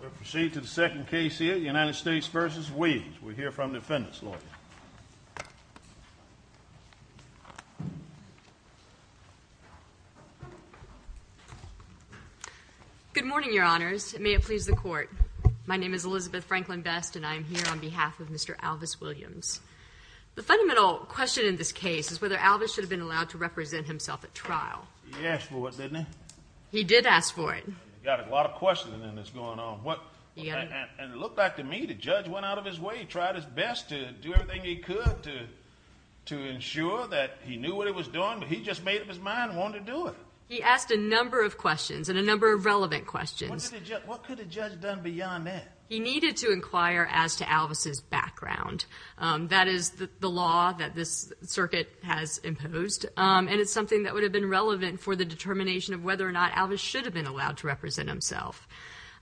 We'll proceed to the second case here, United States v. Williams. We'll hear from the defendant's lawyer. Good morning, Your Honors. May it please the Court. My name is Elizabeth Franklin Best and I am here on behalf of Mr. Alvis Williams. The fundamental question in this case is whether Alvis should have been allowed to represent himself at trial. He asked for it, didn't he? He did ask for it. You've got a lot of questioning in this going on. And it looked like to me the judge went out of his way. He tried his best to do everything he could to ensure that he knew what he was doing. But he just made up his mind and wanted to do it. He asked a number of questions and a number of relevant questions. What could a judge have done beyond that? He needed to inquire as to Alvis's background. That is the law that this circuit has imposed. And it's something that would have been relevant for the determination of whether or not Alvis should have been allowed to represent himself.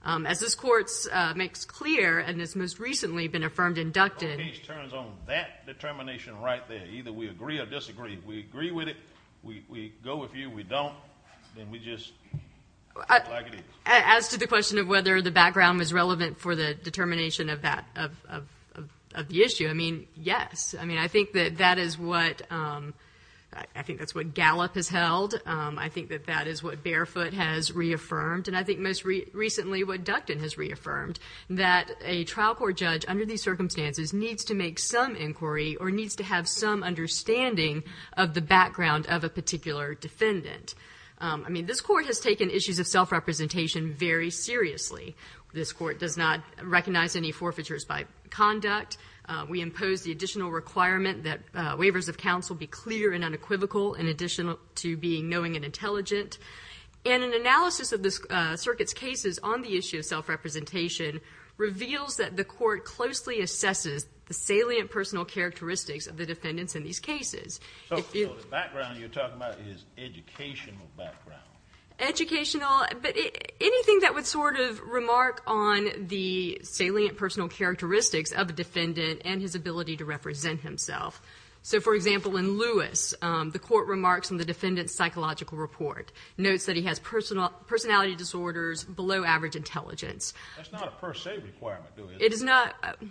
As this Court makes clear and has most recently been affirmed and inducted. The case turns on that determination right there. Either we agree or disagree. If we agree with it, we go with you. If we don't, then we just act like it is. As to the question of whether the background was relevant for the determination of the issue, I mean, yes. I mean, I think that that is what Gallup has held. I think that that is what Barefoot has reaffirmed. And I think most recently what Ducton has reaffirmed. That a trial court judge under these circumstances needs to make some inquiry or needs to have some understanding of the background of a particular defendant. I mean, this Court has taken issues of self-representation very seriously. This Court does not recognize any forfeitures by conduct. We impose the additional requirement that waivers of counsel be clear and unequivocal in addition to being knowing and intelligent. And an analysis of the Circuit's cases on the issue of self-representation reveals that the Court closely assesses the salient personal characteristics of the defendants in these cases. So the background you're talking about is educational background. Educational. But anything that would sort of remark on the salient personal characteristics of a defendant and his ability to represent himself. So, for example, in Lewis, the Court remarks in the defendant's psychological report, notes that he has personality disorders, below average intelligence. That's not a per se requirement, is it?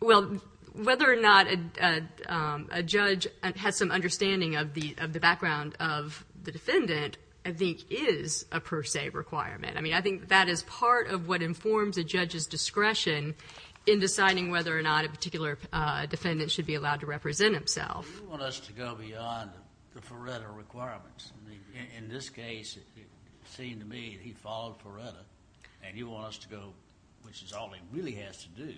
Well, whether or not a judge has some understanding of the background of the defendant, I think is a per se requirement. I mean, I think that is part of what informs a judge's discretion in deciding whether or not a particular defendant should be allowed to represent himself. You want us to go beyond the Feretta requirements. In this case, it seemed to me that he followed Feretta, and you want us to go, which is all he really has to do,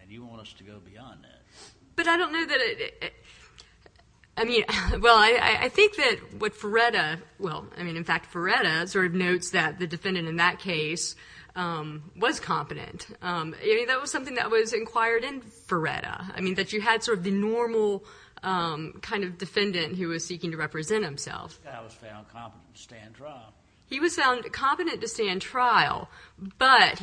and you want us to go beyond that. But I don't know that it, I mean, well, I think that what Feretta, well, I mean, in fact, Feretta sort of notes that the defendant in that case was competent. I mean, that was something that was inquired in Feretta. I mean, that you had sort of the normal kind of defendant who was seeking to represent himself. This guy was found competent to stand trial. He was found competent to stand trial, but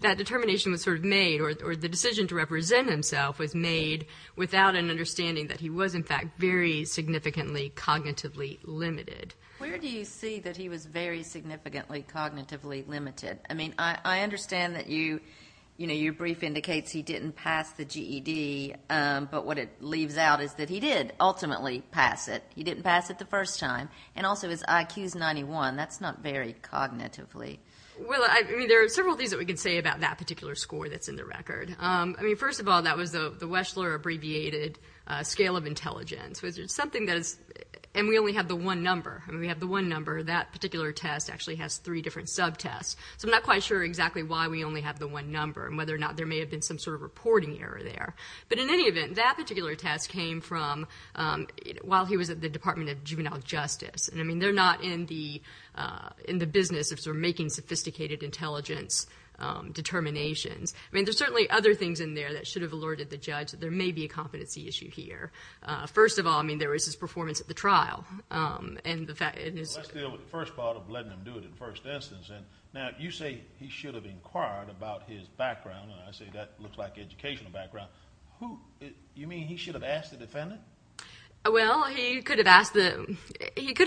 that determination was sort of made or the decision to represent himself was made without an understanding that he was, in fact, very significantly cognitively limited. Where do you see that he was very significantly cognitively limited? I mean, I understand that your brief indicates he didn't pass the GED, but what it leaves out is that he did ultimately pass it. He didn't pass it the first time, and also his IQ is 91. That's not very cognitively. Well, I mean, there are several things that we can say about that particular score that's in the record. I mean, first of all, that was the Weschler abbreviated scale of intelligence, which is something that is, and we only have the one number. I mean, we have the one number. That particular test actually has three different subtests, so I'm not quite sure exactly why we only have the one number and whether or not there may have been some sort of reporting error there. But in any event, that particular test came from while he was at the Department of Juvenile Justice. And, I mean, they're not in the business of sort of making sophisticated intelligence determinations. I mean, there are certainly other things in there that should have alerted the judge that there may be a competency issue here. First of all, I mean, there was his performance at the trial. Well, let's deal with the first part of letting him do it in the first instance. Now, you say he should have inquired about his background, and I say that looks like educational background. You mean he should have asked the defendant? Well, he could have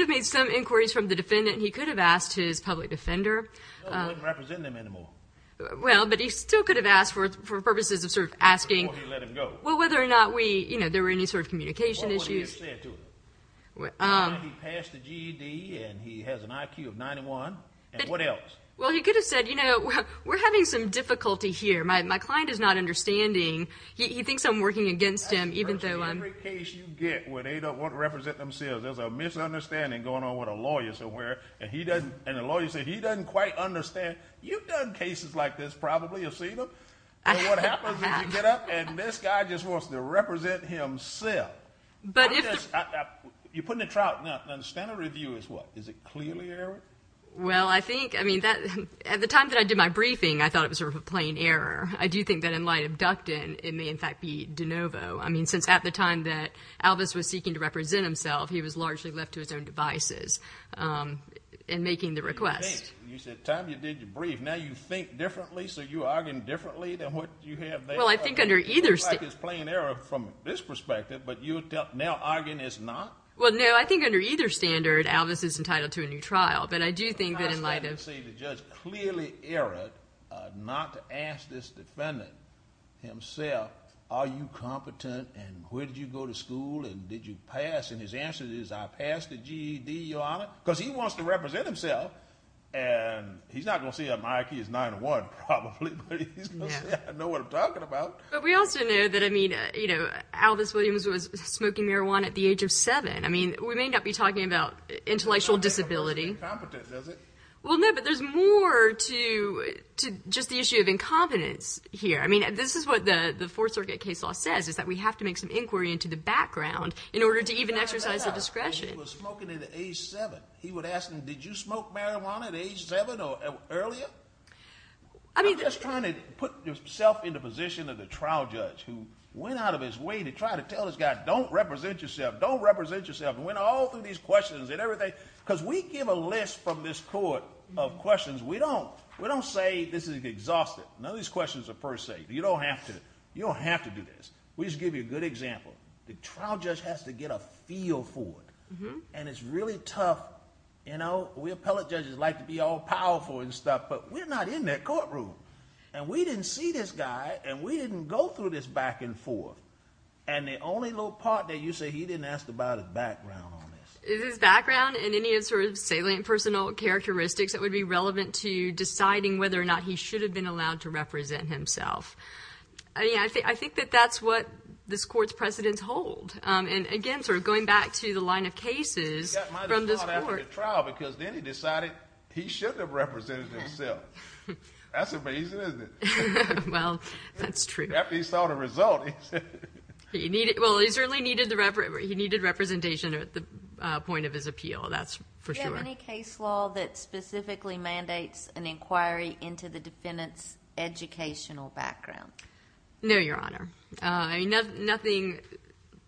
made some inquiries from the defendant. He could have asked his public defender. No, he wouldn't represent them anymore. Well, but he still could have asked for purposes of sort of asking. Before he let him go. Well, whether or not there were any sort of communication issues. Well, what did he have to say to him? He passed the GED, and he has an IQ of 91. And what else? Well, he could have said, you know, we're having some difficulty here. My client is not understanding. He thinks I'm working against him. Every case you get where they don't want to represent themselves, there's a misunderstanding going on with a lawyer somewhere, and the lawyer says he doesn't quite understand. You've done cases like this probably. You've seen them. And what happens is you get up, and this guy just wants to represent himself. You put him in the trial. Now, the standard review is what? Is it clearly error? Well, I think, I mean, at the time that I did my briefing, I thought it was sort of a plain error. I do think that in light of Ducton, it may, in fact, be de novo. I mean, since at the time that Alvis was seeking to represent himself, he was largely left to his own devices in making the request. You said at the time you did your brief, now you think differently, so you're arguing differently than what you have there? Well, I think under either standard. It looks like it's plain error from this perspective, but you're now arguing it's not? Well, no, I think under either standard, Alvis is entitled to a new trial. But I do think that in light of – It's not a standard to say the judge clearly erred, not to ask this defendant himself, are you competent and where did you go to school and did you pass? And his answer is, I passed the GED, Your Honor, because he wants to represent himself. And he's not going to say my IQ is nine to one probably, but he's going to say I know what I'm talking about. But we also know that, I mean, Alvis Williams was smoking marijuana at the age of seven. I mean, we may not be talking about intellectual disability. Well, no, but there's more to just the issue of incompetence here. I mean, this is what the Fourth Circuit case law says, is that we have to make some inquiry into the background in order to even exercise the discretion. He was smoking at age seven. He would ask him, did you smoke marijuana at age seven or earlier? I'm just trying to put yourself in the position of the trial judge who went out of his way to try to tell his guy, don't represent yourself, don't represent yourself, and went all through these questions and everything. Because we give a list from this court of questions. We don't say this is exhaustive. None of these questions are per se. You don't have to. You don't have to do this. We just give you a good example. The trial judge has to get a feel for it. And it's really tough. We appellate judges like to be all powerful and stuff, but we're not in that courtroom. And we didn't see this guy, and we didn't go through this back and forth. And the only little part that you say he didn't ask about is background on this. If it's background and any sort of salient personal characteristics, it would be relevant to deciding whether or not he should have been allowed to represent himself. I think that that's what this court's precedents hold. And, again, sort of going back to the line of cases from this court. Because then he decided he shouldn't have represented himself. That's amazing, isn't it? Well, that's true. After he saw the result, he said. Well, he certainly needed representation at the point of his appeal. That's for sure. Do you have any case law that specifically mandates an inquiry into the defendant's educational background? No, Your Honor. Nothing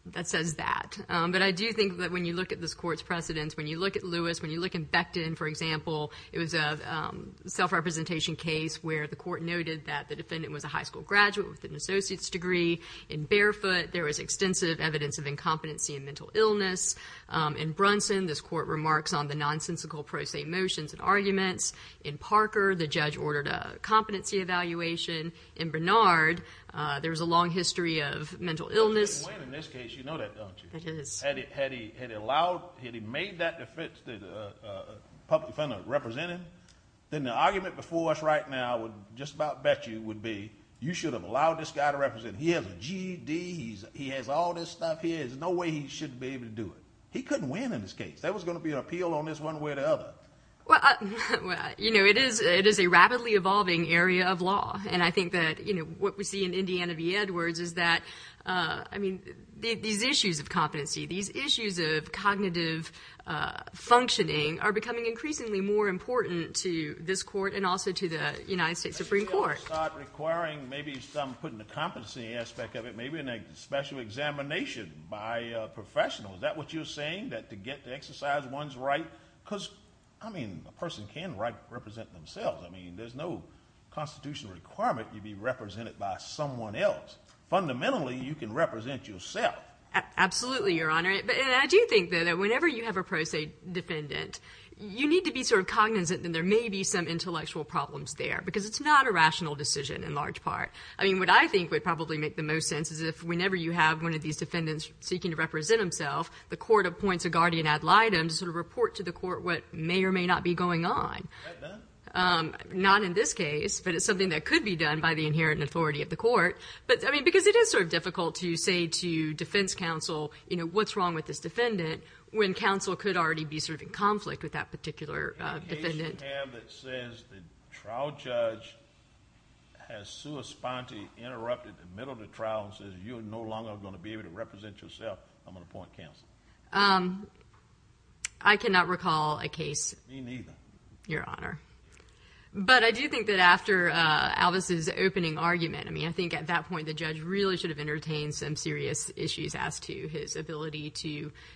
that says that. But I do think that when you look at this court's precedents, when you look at Lewis, when you look at Becton, for example, it was a self-representation case where the court noted that the defendant was a person with an associate's degree. In Barefoot, there was extensive evidence of incompetency and mental illness. In Brunson, this court remarks on the nonsensical pro se motions and arguments. In Parker, the judge ordered a competency evaluation. In Bernard, there was a long history of mental illness. In this case, you know that, don't you? It is. Had he made that defense that the public defender represented, then the argument before us right now would just about bet you would be you should have allowed this guy to represent. He has a GED. He has all this stuff here. There's no way he should be able to do it. He couldn't win in this case. There was going to be an appeal on this one way or the other. Well, you know, it is a rapidly evolving area of law. And I think that, you know, what we see in Indiana v. Edwards is that, I mean, these issues of competency, these issues of cognitive functioning are becoming increasingly more important to this court and also to the United States Supreme Court. You start requiring maybe some put in the competency aspect of it, maybe a special examination by a professional. Is that what you're saying, that to get to exercise one's right? Because, I mean, a person can represent themselves. I mean, there's no constitutional requirement you be represented by someone else. Fundamentally, you can represent yourself. Absolutely, Your Honor. And I do think, though, that whenever you have a pro se defendant, you need to be sort of cognizant that there may be some intellectual problems there because it's not a rational decision in large part. I mean, what I think would probably make the most sense is if whenever you have one of these defendants seeking to represent himself, the court appoints a guardian ad litem to sort of report to the court what may or may not be going on. Is that done? Not in this case, but it's something that could be done by the inherent authority of the court. But, I mean, because it is sort of difficult to say to defense counsel, you know, what's wrong with this defendant when counsel could already be sort of in conflict with that particular defendant. There's a tab that says the trial judge has sua sponte interrupted the middle of the trial and says, you are no longer going to be able to represent yourself. I'm going to appoint counsel. I cannot recall a case. Me neither. Your Honor. But I do think that after Alvis's opening argument, I mean, I think at that point the judge really should have entertained some serious issues as to his ability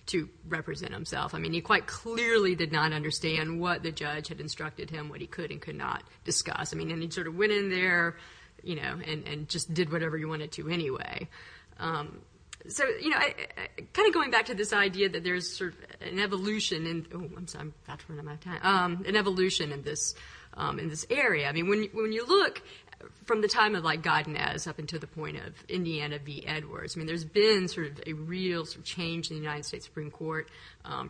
to represent himself. I mean, he quite clearly did not understand what the judge had instructed him, what he could and could not discuss. I mean, and he sort of went in there, you know, and just did whatever he wanted to anyway. So, you know, kind of going back to this idea that there's sort of an evolution in, oh, I'm about to run out of time, an evolution in this area. I mean, when you look from the time of, like, Godinez up until the point of Indiana v. Edwards, I mean, there's been sort of a real change in the United States Supreme Court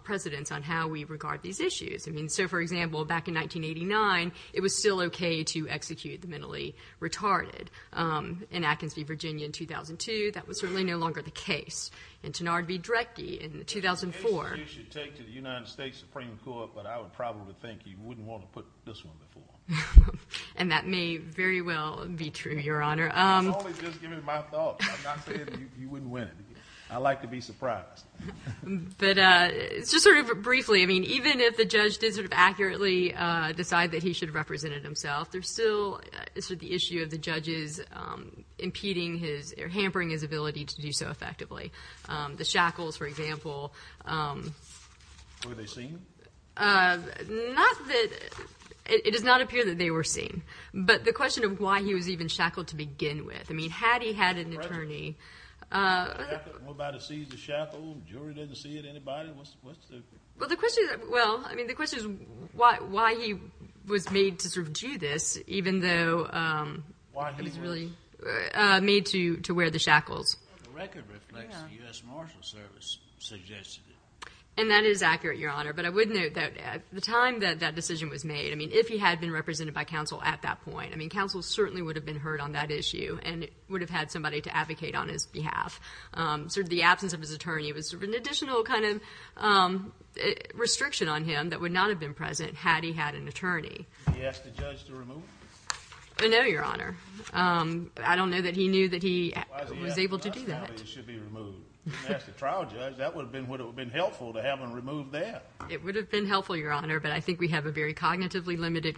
precedents on how we regard these issues. I mean, so, for example, back in 1989, it was still okay to execute the mentally retarded. In Atkins v. Virginia in 2002, that was certainly no longer the case. In Tenard v. Drecke in 2004. Any decision you take to the United States Supreme Court, but I would probably think you wouldn't want to put this one before. And that may very well be true, Your Honor. I was only just giving my thoughts. I'm not saying that you wouldn't win it. I like to be surprised. But just sort of briefly, I mean, even if the judge did sort of accurately decide that he should have represented himself, there's still sort of the issue of the judges impeding his or hampering his ability to do so effectively. The shackles, for example. Were they seen? Not that it does not appear that they were seen. But the question of why he was even shackled to begin with. I mean, had he had an attorney. What about a seized shackle? The jury didn't see it. Anybody? Well, the question is, well, I mean, the question is why he was made to sort of do this, even though it was really made to wear the shackles. The record reflects the U.S. Marshal Service suggested it. And that is accurate, Your Honor. But I would note that at the time that that decision was made, I mean, if he had been represented by counsel at that point, I mean, counsel certainly would have been heard on that issue and would have had somebody to advocate on his behalf. Sort of the absence of his attorney was sort of an additional kind of restriction on him that would not have been present. Had he had an attorney. The judge to remove. No, Your Honor. I don't know that he knew that he was able to do that. It should be removed. Ask the trial judge. That would have been, would it have been helpful to have them remove that? It would have been helpful, Your Honor. But I think we have a very cognitively limited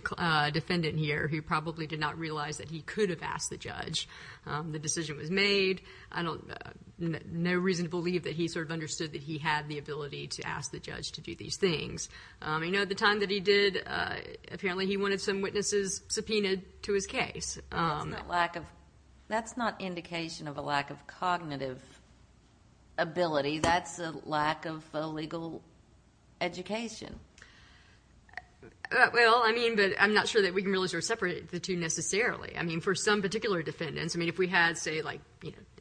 defendant here who probably did not realize that he could have asked the judge. The decision was made. I don't, no reason to believe that he sort of understood that he had the ability to ask the judge to do these things. You know, at the time that he did, apparently he wanted some witnesses subpoenaed to his case. That's not lack of, that's not indication of a lack of cognitive ability. That's a lack of a legal education. Well, I mean, but I'm not sure that we can really separate the two necessarily. I mean, for some particular defendants, I mean, if we had say like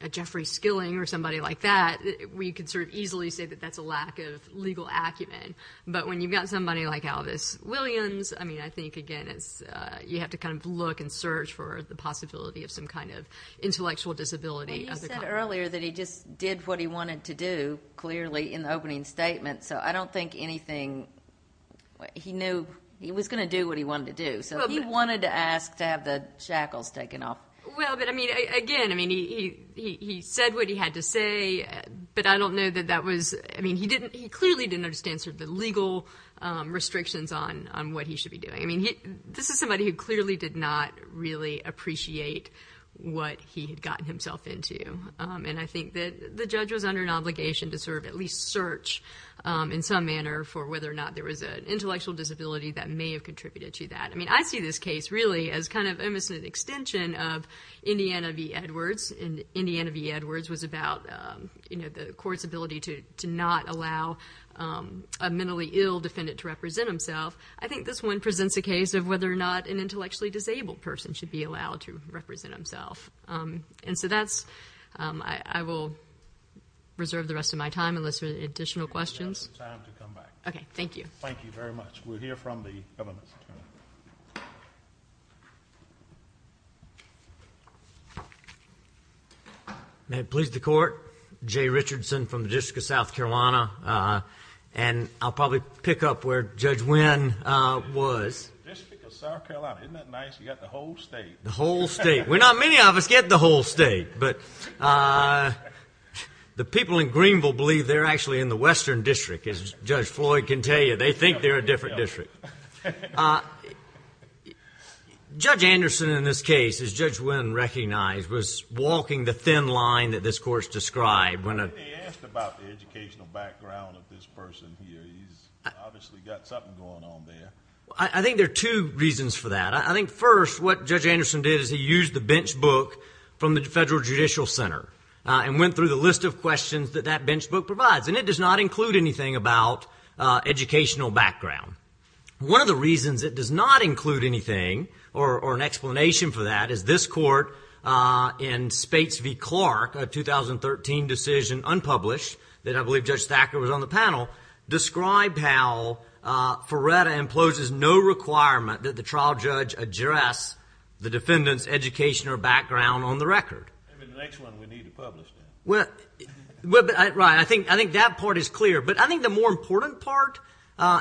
a Jeffrey Skilling or somebody like that, we could sort of easily say that that's a lack of legal acumen. But when you've got somebody like Elvis Williams, I mean, I think again it's, you have to kind of look and search for the possibility of some kind of intellectual disability. Well, you said earlier that he just did what he wanted to do clearly in the opening statement. So I don't think anything, he knew he was going to do what he wanted to do. So he wanted to ask to have the shackles taken off. Well, but I mean, again, I mean, he, he, he said what he had to say, but I don't know that that was, I mean, he didn't, he clearly didn't understand sort of the legal restrictions on, on what he should be doing. I mean, he, this is somebody who clearly did not really appreciate what he had gotten himself into. And I think that the judge was under an obligation to sort of at least search in some manner for whether or not there was an intellectual disability that may have contributed to that. I mean, I see this case really as kind of an extension of Indiana v. Edwards in Indiana v. Edwards was about you know, the court's ability to, to not allow a mentally ill defendant to represent himself. I think this one presents a case of whether or not an intellectually disabled person should be allowed to represent himself. And so that's I, I will reserve the rest of my time unless there's additional questions. Okay. Thank you. Thank you very much. We'll hear from the government attorney. May it please the court. Jay Richardson from the district of South Carolina. And I'll probably pick up where judge Wynn was. The district of South Carolina. Isn't that nice? You got the whole state. The whole state. Well, not many of us get the whole state, but the people in Greenville believe they're actually in the Western district. As judge Floyd can tell you, they think they're a different district. Judge Anderson in this case, as judge Wynn recognized was walking the thin line that this court's described. When they asked about the educational background of this person here, he's obviously got something going on there. I think there are two reasons for that. I think first, what judge Anderson did is he used the bench book from the federal judicial center and went through the list of questions that that bench book provides. And it does not include anything about educational background. One of the reasons it does not include anything or an explanation for that is this court in Spates v. Clark, a 2013 decision unpublished that I believe judge Thacker was on the panel, described how Ferretta imposes no requirement that the trial judge address the defendant's education or background on the record. The next one we need to publish. Right. I think that part is clear. But I think the more important part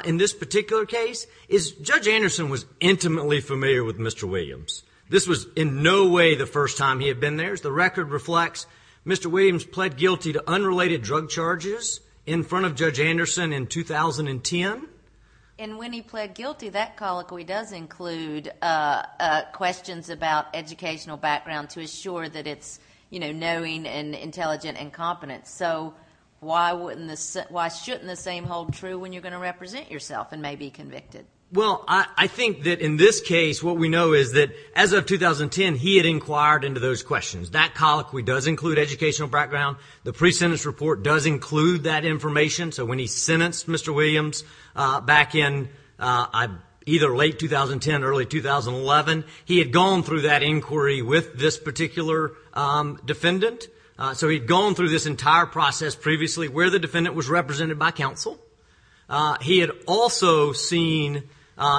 in this particular case is judge Anderson was intimately familiar with Mr. Williams. This was in no way the first time he had been there. The record reflects Mr. Williams pled guilty to unrelated drug charges in front of judge Anderson in 2010. And when he pled guilty, that colloquy does include questions about educational background to assure that it's knowing and intelligent and competent. So why shouldn't the same hold true when you're going to represent yourself and may be convicted? Well, I think that in this case what we know is that as of 2010, he had inquired into those questions. That colloquy does include educational background. The pre-sentence report does include that information. So when he sentenced Mr. Williams back in either late 2010, early 2011, he had gone through that inquiry with this particular defendant. So he'd gone through this entire process previously where the defendant was represented by counsel. He had also seen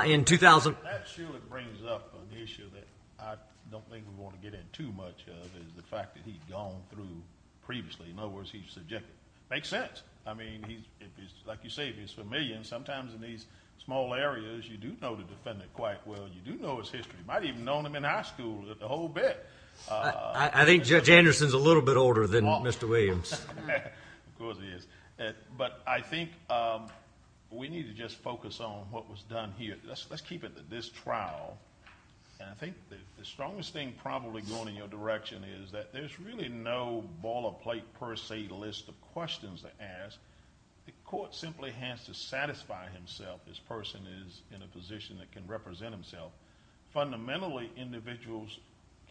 in 2000. That surely brings up an issue that I don't think we want to get in too much of is the fact that he'd gone through previously. In other words, he's subjective. Makes sense. I mean, like you say, if he's familiar, sometimes in these small areas you do know the defendant quite well. You do know his history. You might have even known him in high school the whole bit. I think Judge Anderson is a little bit older than Mr. Williams. Of course he is. But I think we need to just focus on what was done here. Let's keep it at this trial. And I think the strongest thing probably going in your direction is that there's really no ball or plate per se list of questions to ask. The court simply has to satisfy himself. This person is in a position that can represent himself. Fundamentally, individuals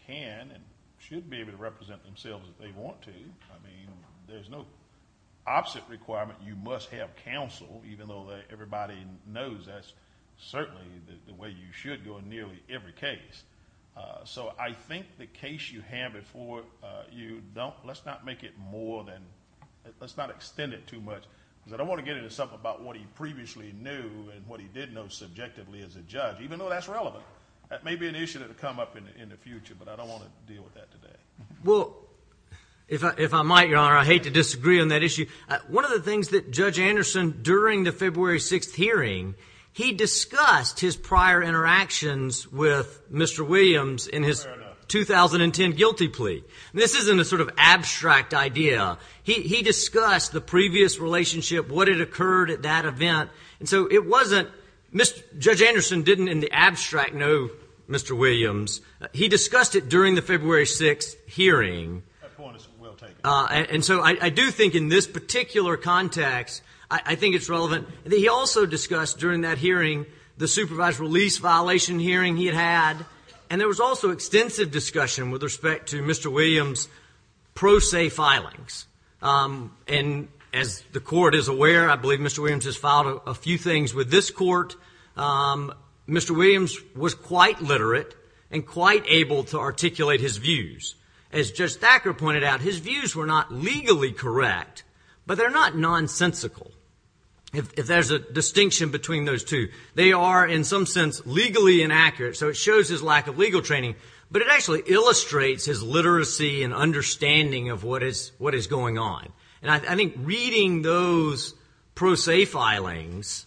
can and should be able to represent themselves if they want to. I mean, there's no opposite requirement. You must have counsel, even though everybody knows that's certainly the way you should go in nearly every case. So I think the case you have before you, let's not make it more than, let's not extend it too much. Because I don't want to get into something about what he previously knew and what he did know subjectively as a judge, even though that's relevant. That may be an issue that will come up in the future, but I don't want to deal with that today. Well, if I might, Your Honor, I hate to disagree on that issue. One of the things that Judge Anderson, during the February 6th hearing, he discussed his prior interactions with Mr. Williams in his 2010 guilty plea. This isn't a sort of abstract idea. He discussed the previous relationship, what had occurred at that event. And so it wasn't, Judge Anderson didn't in the abstract know Mr. Williams. He discussed it during the February 6th hearing. That point is well taken. And so I do think in this particular context, I think it's relevant. He also discussed during that hearing the supervised release violation hearing he had had. And there was also extensive discussion with respect to Mr. Williams' pro se filings. And as the Court is aware, I believe Mr. Williams has filed a few things with this Court. Mr. Williams was quite literate and quite able to articulate his views. As Judge Thacker pointed out, his views were not legally correct, but they're not nonsensical if there's a distinction between those two. They are in some sense legally inaccurate, so it shows his lack of legal training. But it actually illustrates his literacy and understanding of what is going on. And I think reading those pro se filings,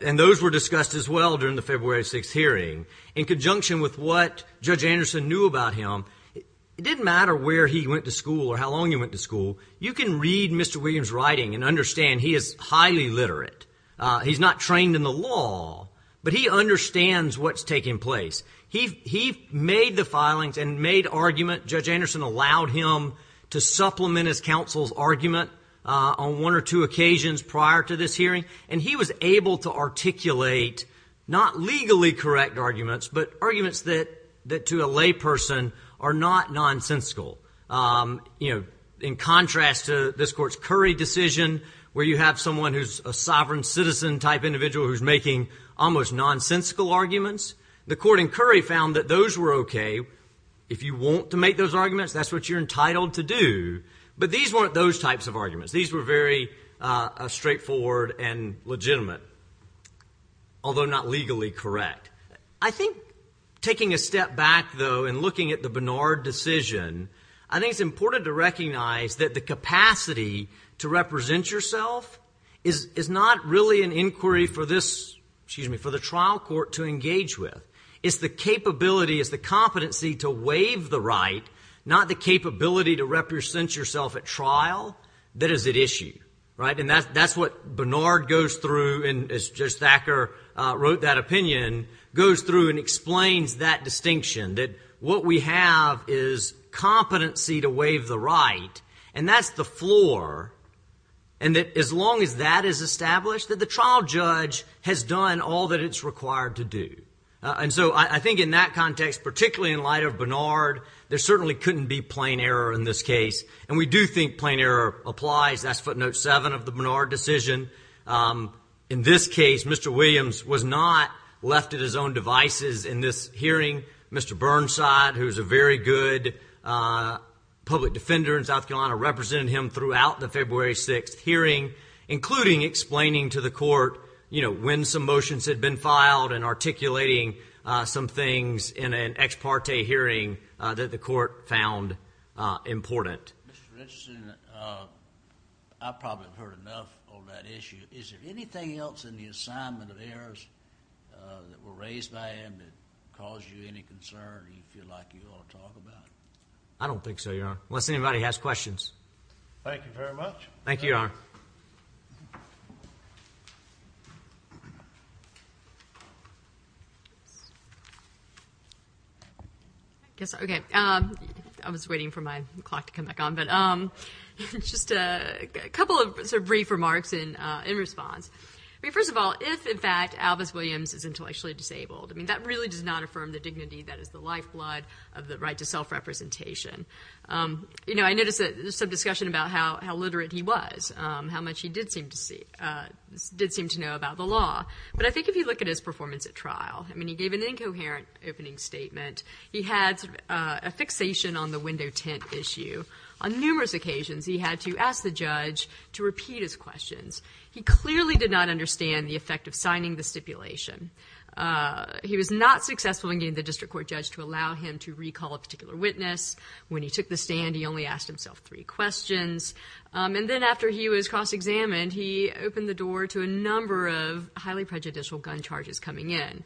and those were discussed as well during the February 6th hearing, in conjunction with what Judge Anderson knew about him, it didn't matter where he went to school or how long he went to school. You can read Mr. Williams' writing and understand he is highly literate. He's not trained in the law, but he understands what's taking place. He made the filings and made argument. Judge Anderson allowed him to supplement his counsel's argument on one or two occasions prior to this hearing. And he was able to articulate not legally correct arguments, but arguments that to a lay person are not nonsensical. You know, in contrast to this court's Curry decision, where you have someone who's a sovereign citizen type individual who's making almost nonsensical arguments, the court in Curry found that those were okay. If you want to make those arguments, that's what you're entitled to do. But these weren't those types of arguments. These were very straightforward and legitimate, although not legally correct. I think taking a step back, though, and looking at the Bernard decision, I think it's important to recognize that the capacity to represent yourself is not really an inquiry for this, excuse me, for the trial court to engage with. It's the capability, it's the competency to waive the right, not the capability to represent yourself at trial that is at issue. Right? And that's what Bernard goes through, and as Judge Thacker wrote that opinion, goes through and explains that distinction, that what we have is competency to waive the right, and that's the floor, and that as long as that is established, that the trial judge has done all that it's required to do. And so I think in that context, particularly in light of Bernard, there certainly couldn't be plain error in this case. And we do think plain error applies. That's footnote seven of the Bernard decision. In this case, Mr. Williams was not left at his own devices in this hearing. Mr. Burnside, who is a very good public defender in South Carolina, represented him throughout the February 6th hearing, including explaining to the court when some motions had been filed and articulating some things in an ex parte hearing that the court found important. Mr. Richardson, I probably have heard enough on that issue. Is there anything else in the assignment of errors that were raised by him that caused you any concern that you feel like you ought to talk about? I don't think so, Your Honor, unless anybody has questions. Thank you very much. Thank you, Your Honor. I guess, okay, I was waiting for my clock to come back on. But just a couple of sort of brief remarks in response. I mean, first of all, if, in fact, Albus Williams is intellectually disabled, I mean, that really does not affirm the dignity that is the lifeblood of the right to self-representation. You know, I noticed that there was some discussion about how literate he was, how much he did seem to know about the law. But I think if you look at his performance at trial, I mean, he gave an incoherent opening statement. He had a fixation on the window tint issue. On numerous occasions, he had to ask the judge to repeat his questions. He clearly did not understand the effect of signing the stipulation. He was not successful in getting the district court judge to allow him to recall a particular witness. When he took the stand, he only asked himself three questions. And then after he was cross-examined, he opened the door to a number of highly prejudicial gun charges coming in.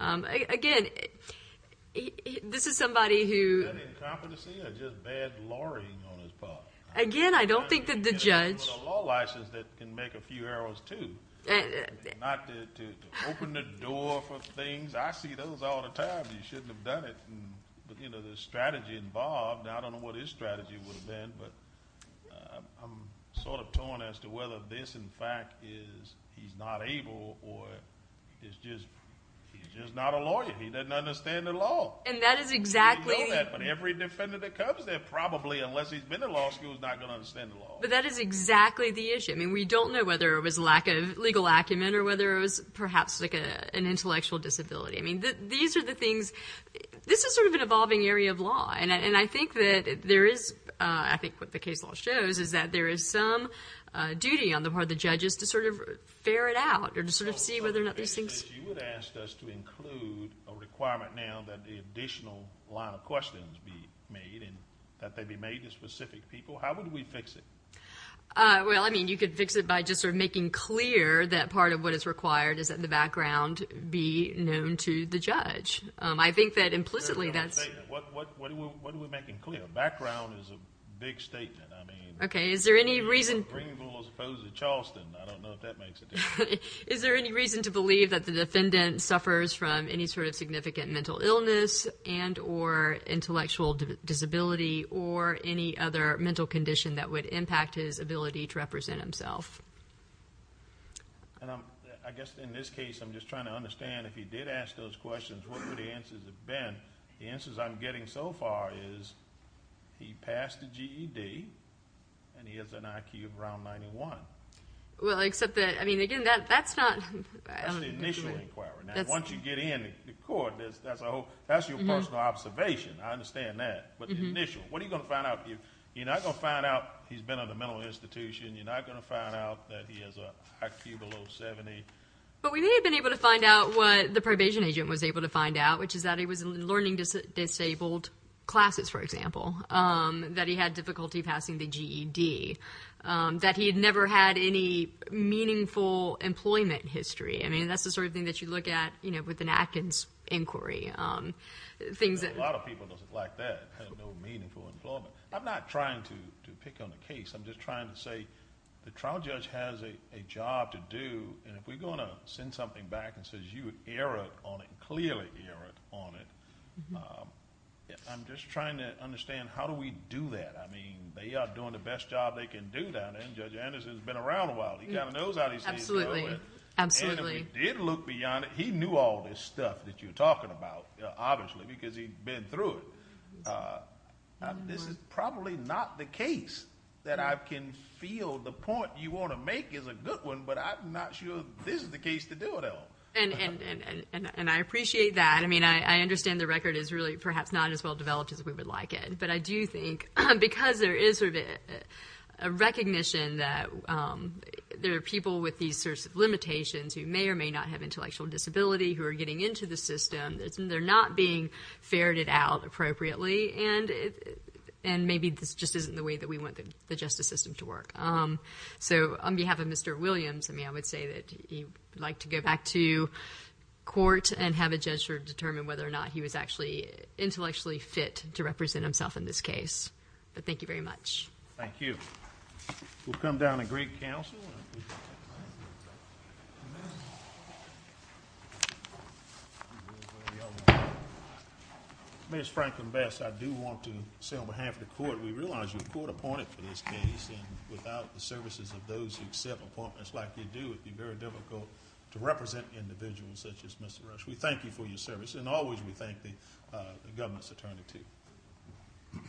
Again, this is somebody who— An incompetency or just bad lawyering on his part. Again, I don't think that the judge— A law license that can make a few arrows, too. Not to open the door for things. I see those all the time. You shouldn't have done it. But, you know, the strategy involved, I don't know what his strategy would have been, but I'm sort of torn as to whether this, in fact, is he's not able or he's just not a lawyer. He doesn't understand the law. And that is exactly— We know that, but every defendant that comes there, probably unless he's been to law school, is not going to understand the law. But that is exactly the issue. I mean, we don't know whether it was lack of legal acumen or whether it was perhaps like an intellectual disability. I mean, these are the things—this is sort of an evolving area of law. And I think that there is—I think what the case law shows is that there is some duty on the part of the judges to sort of ferret out or to sort of see whether or not these things— You would ask us to include a requirement now that the additional line of questions be made and that they be made to specific people. How would we fix it? Well, I mean, you could fix it by just sort of making clear that part of what is required is that the background be known to the judge. I think that implicitly that's— What are we making clear? Background is a big statement. Okay. Is there any reason— Greenville is opposed to Charleston. I don't know if that makes a difference. Is there any reason to believe that the defendant suffers from any sort of significant mental illness and or intellectual disability or any other mental condition that would impact his ability to represent himself? I guess in this case, I'm just trying to understand if he did ask those questions, what would the answers have been? The answers I'm getting so far is he passed the GED and he has an IQ of around 91. Well, except that—I mean, again, that's not— That's the initial inquiry. Once you get in the court, that's your personal observation. I understand that. But the initial—what are you going to find out? You're not going to find out he's been in a mental institution. You're not going to find out that he has an IQ below 70. But we may have been able to find out what the probation agent was able to find out, which is that he was learning disabled classes, for example, that he had difficulty passing the GED, that he had never had any meaningful employment history. I mean, that's the sort of thing that you look at with an Atkins inquiry, things that— A lot of people don't like that, had no meaningful employment. I'm not trying to pick on the case. I'm just trying to say the trial judge has a job to do, and if we're going to send something back that says you erred on it, clearly erred on it, I'm just trying to understand how do we do that? I mean, they are doing the best job they can do that, and Judge Anderson has been around a while. He kind of knows how to deal with it. Absolutely, absolutely. And if we did look beyond it, he knew all this stuff that you're talking about, obviously, because he'd been through it. This is probably not the case that I can feel the point you want to make is a good one, but I'm not sure this is the case to do it on. And I appreciate that. I mean, I understand the record is really perhaps not as well developed as we would like it, but I do think because there is sort of a recognition that there are people with these sorts of limitations who may or may not have intellectual disability who are getting into the system, they're not being ferreted out appropriately, and maybe this just isn't the way that we want the justice system to work. So on behalf of Mr. Williams, I mean, I would say that he would like to go back to court and have a judge determine whether or not he was actually intellectually fit to represent himself in this case. But thank you very much. Thank you. We'll come down to Greek Council. Ms. Franklin-Vest, I do want to say on behalf of the court, we realize you were court appointed for this case, and without the services of those who accept appointments like you do, it would be very difficult to represent individuals such as Mr. Rush. We thank you for your service, and always we thank the government's attorney, too.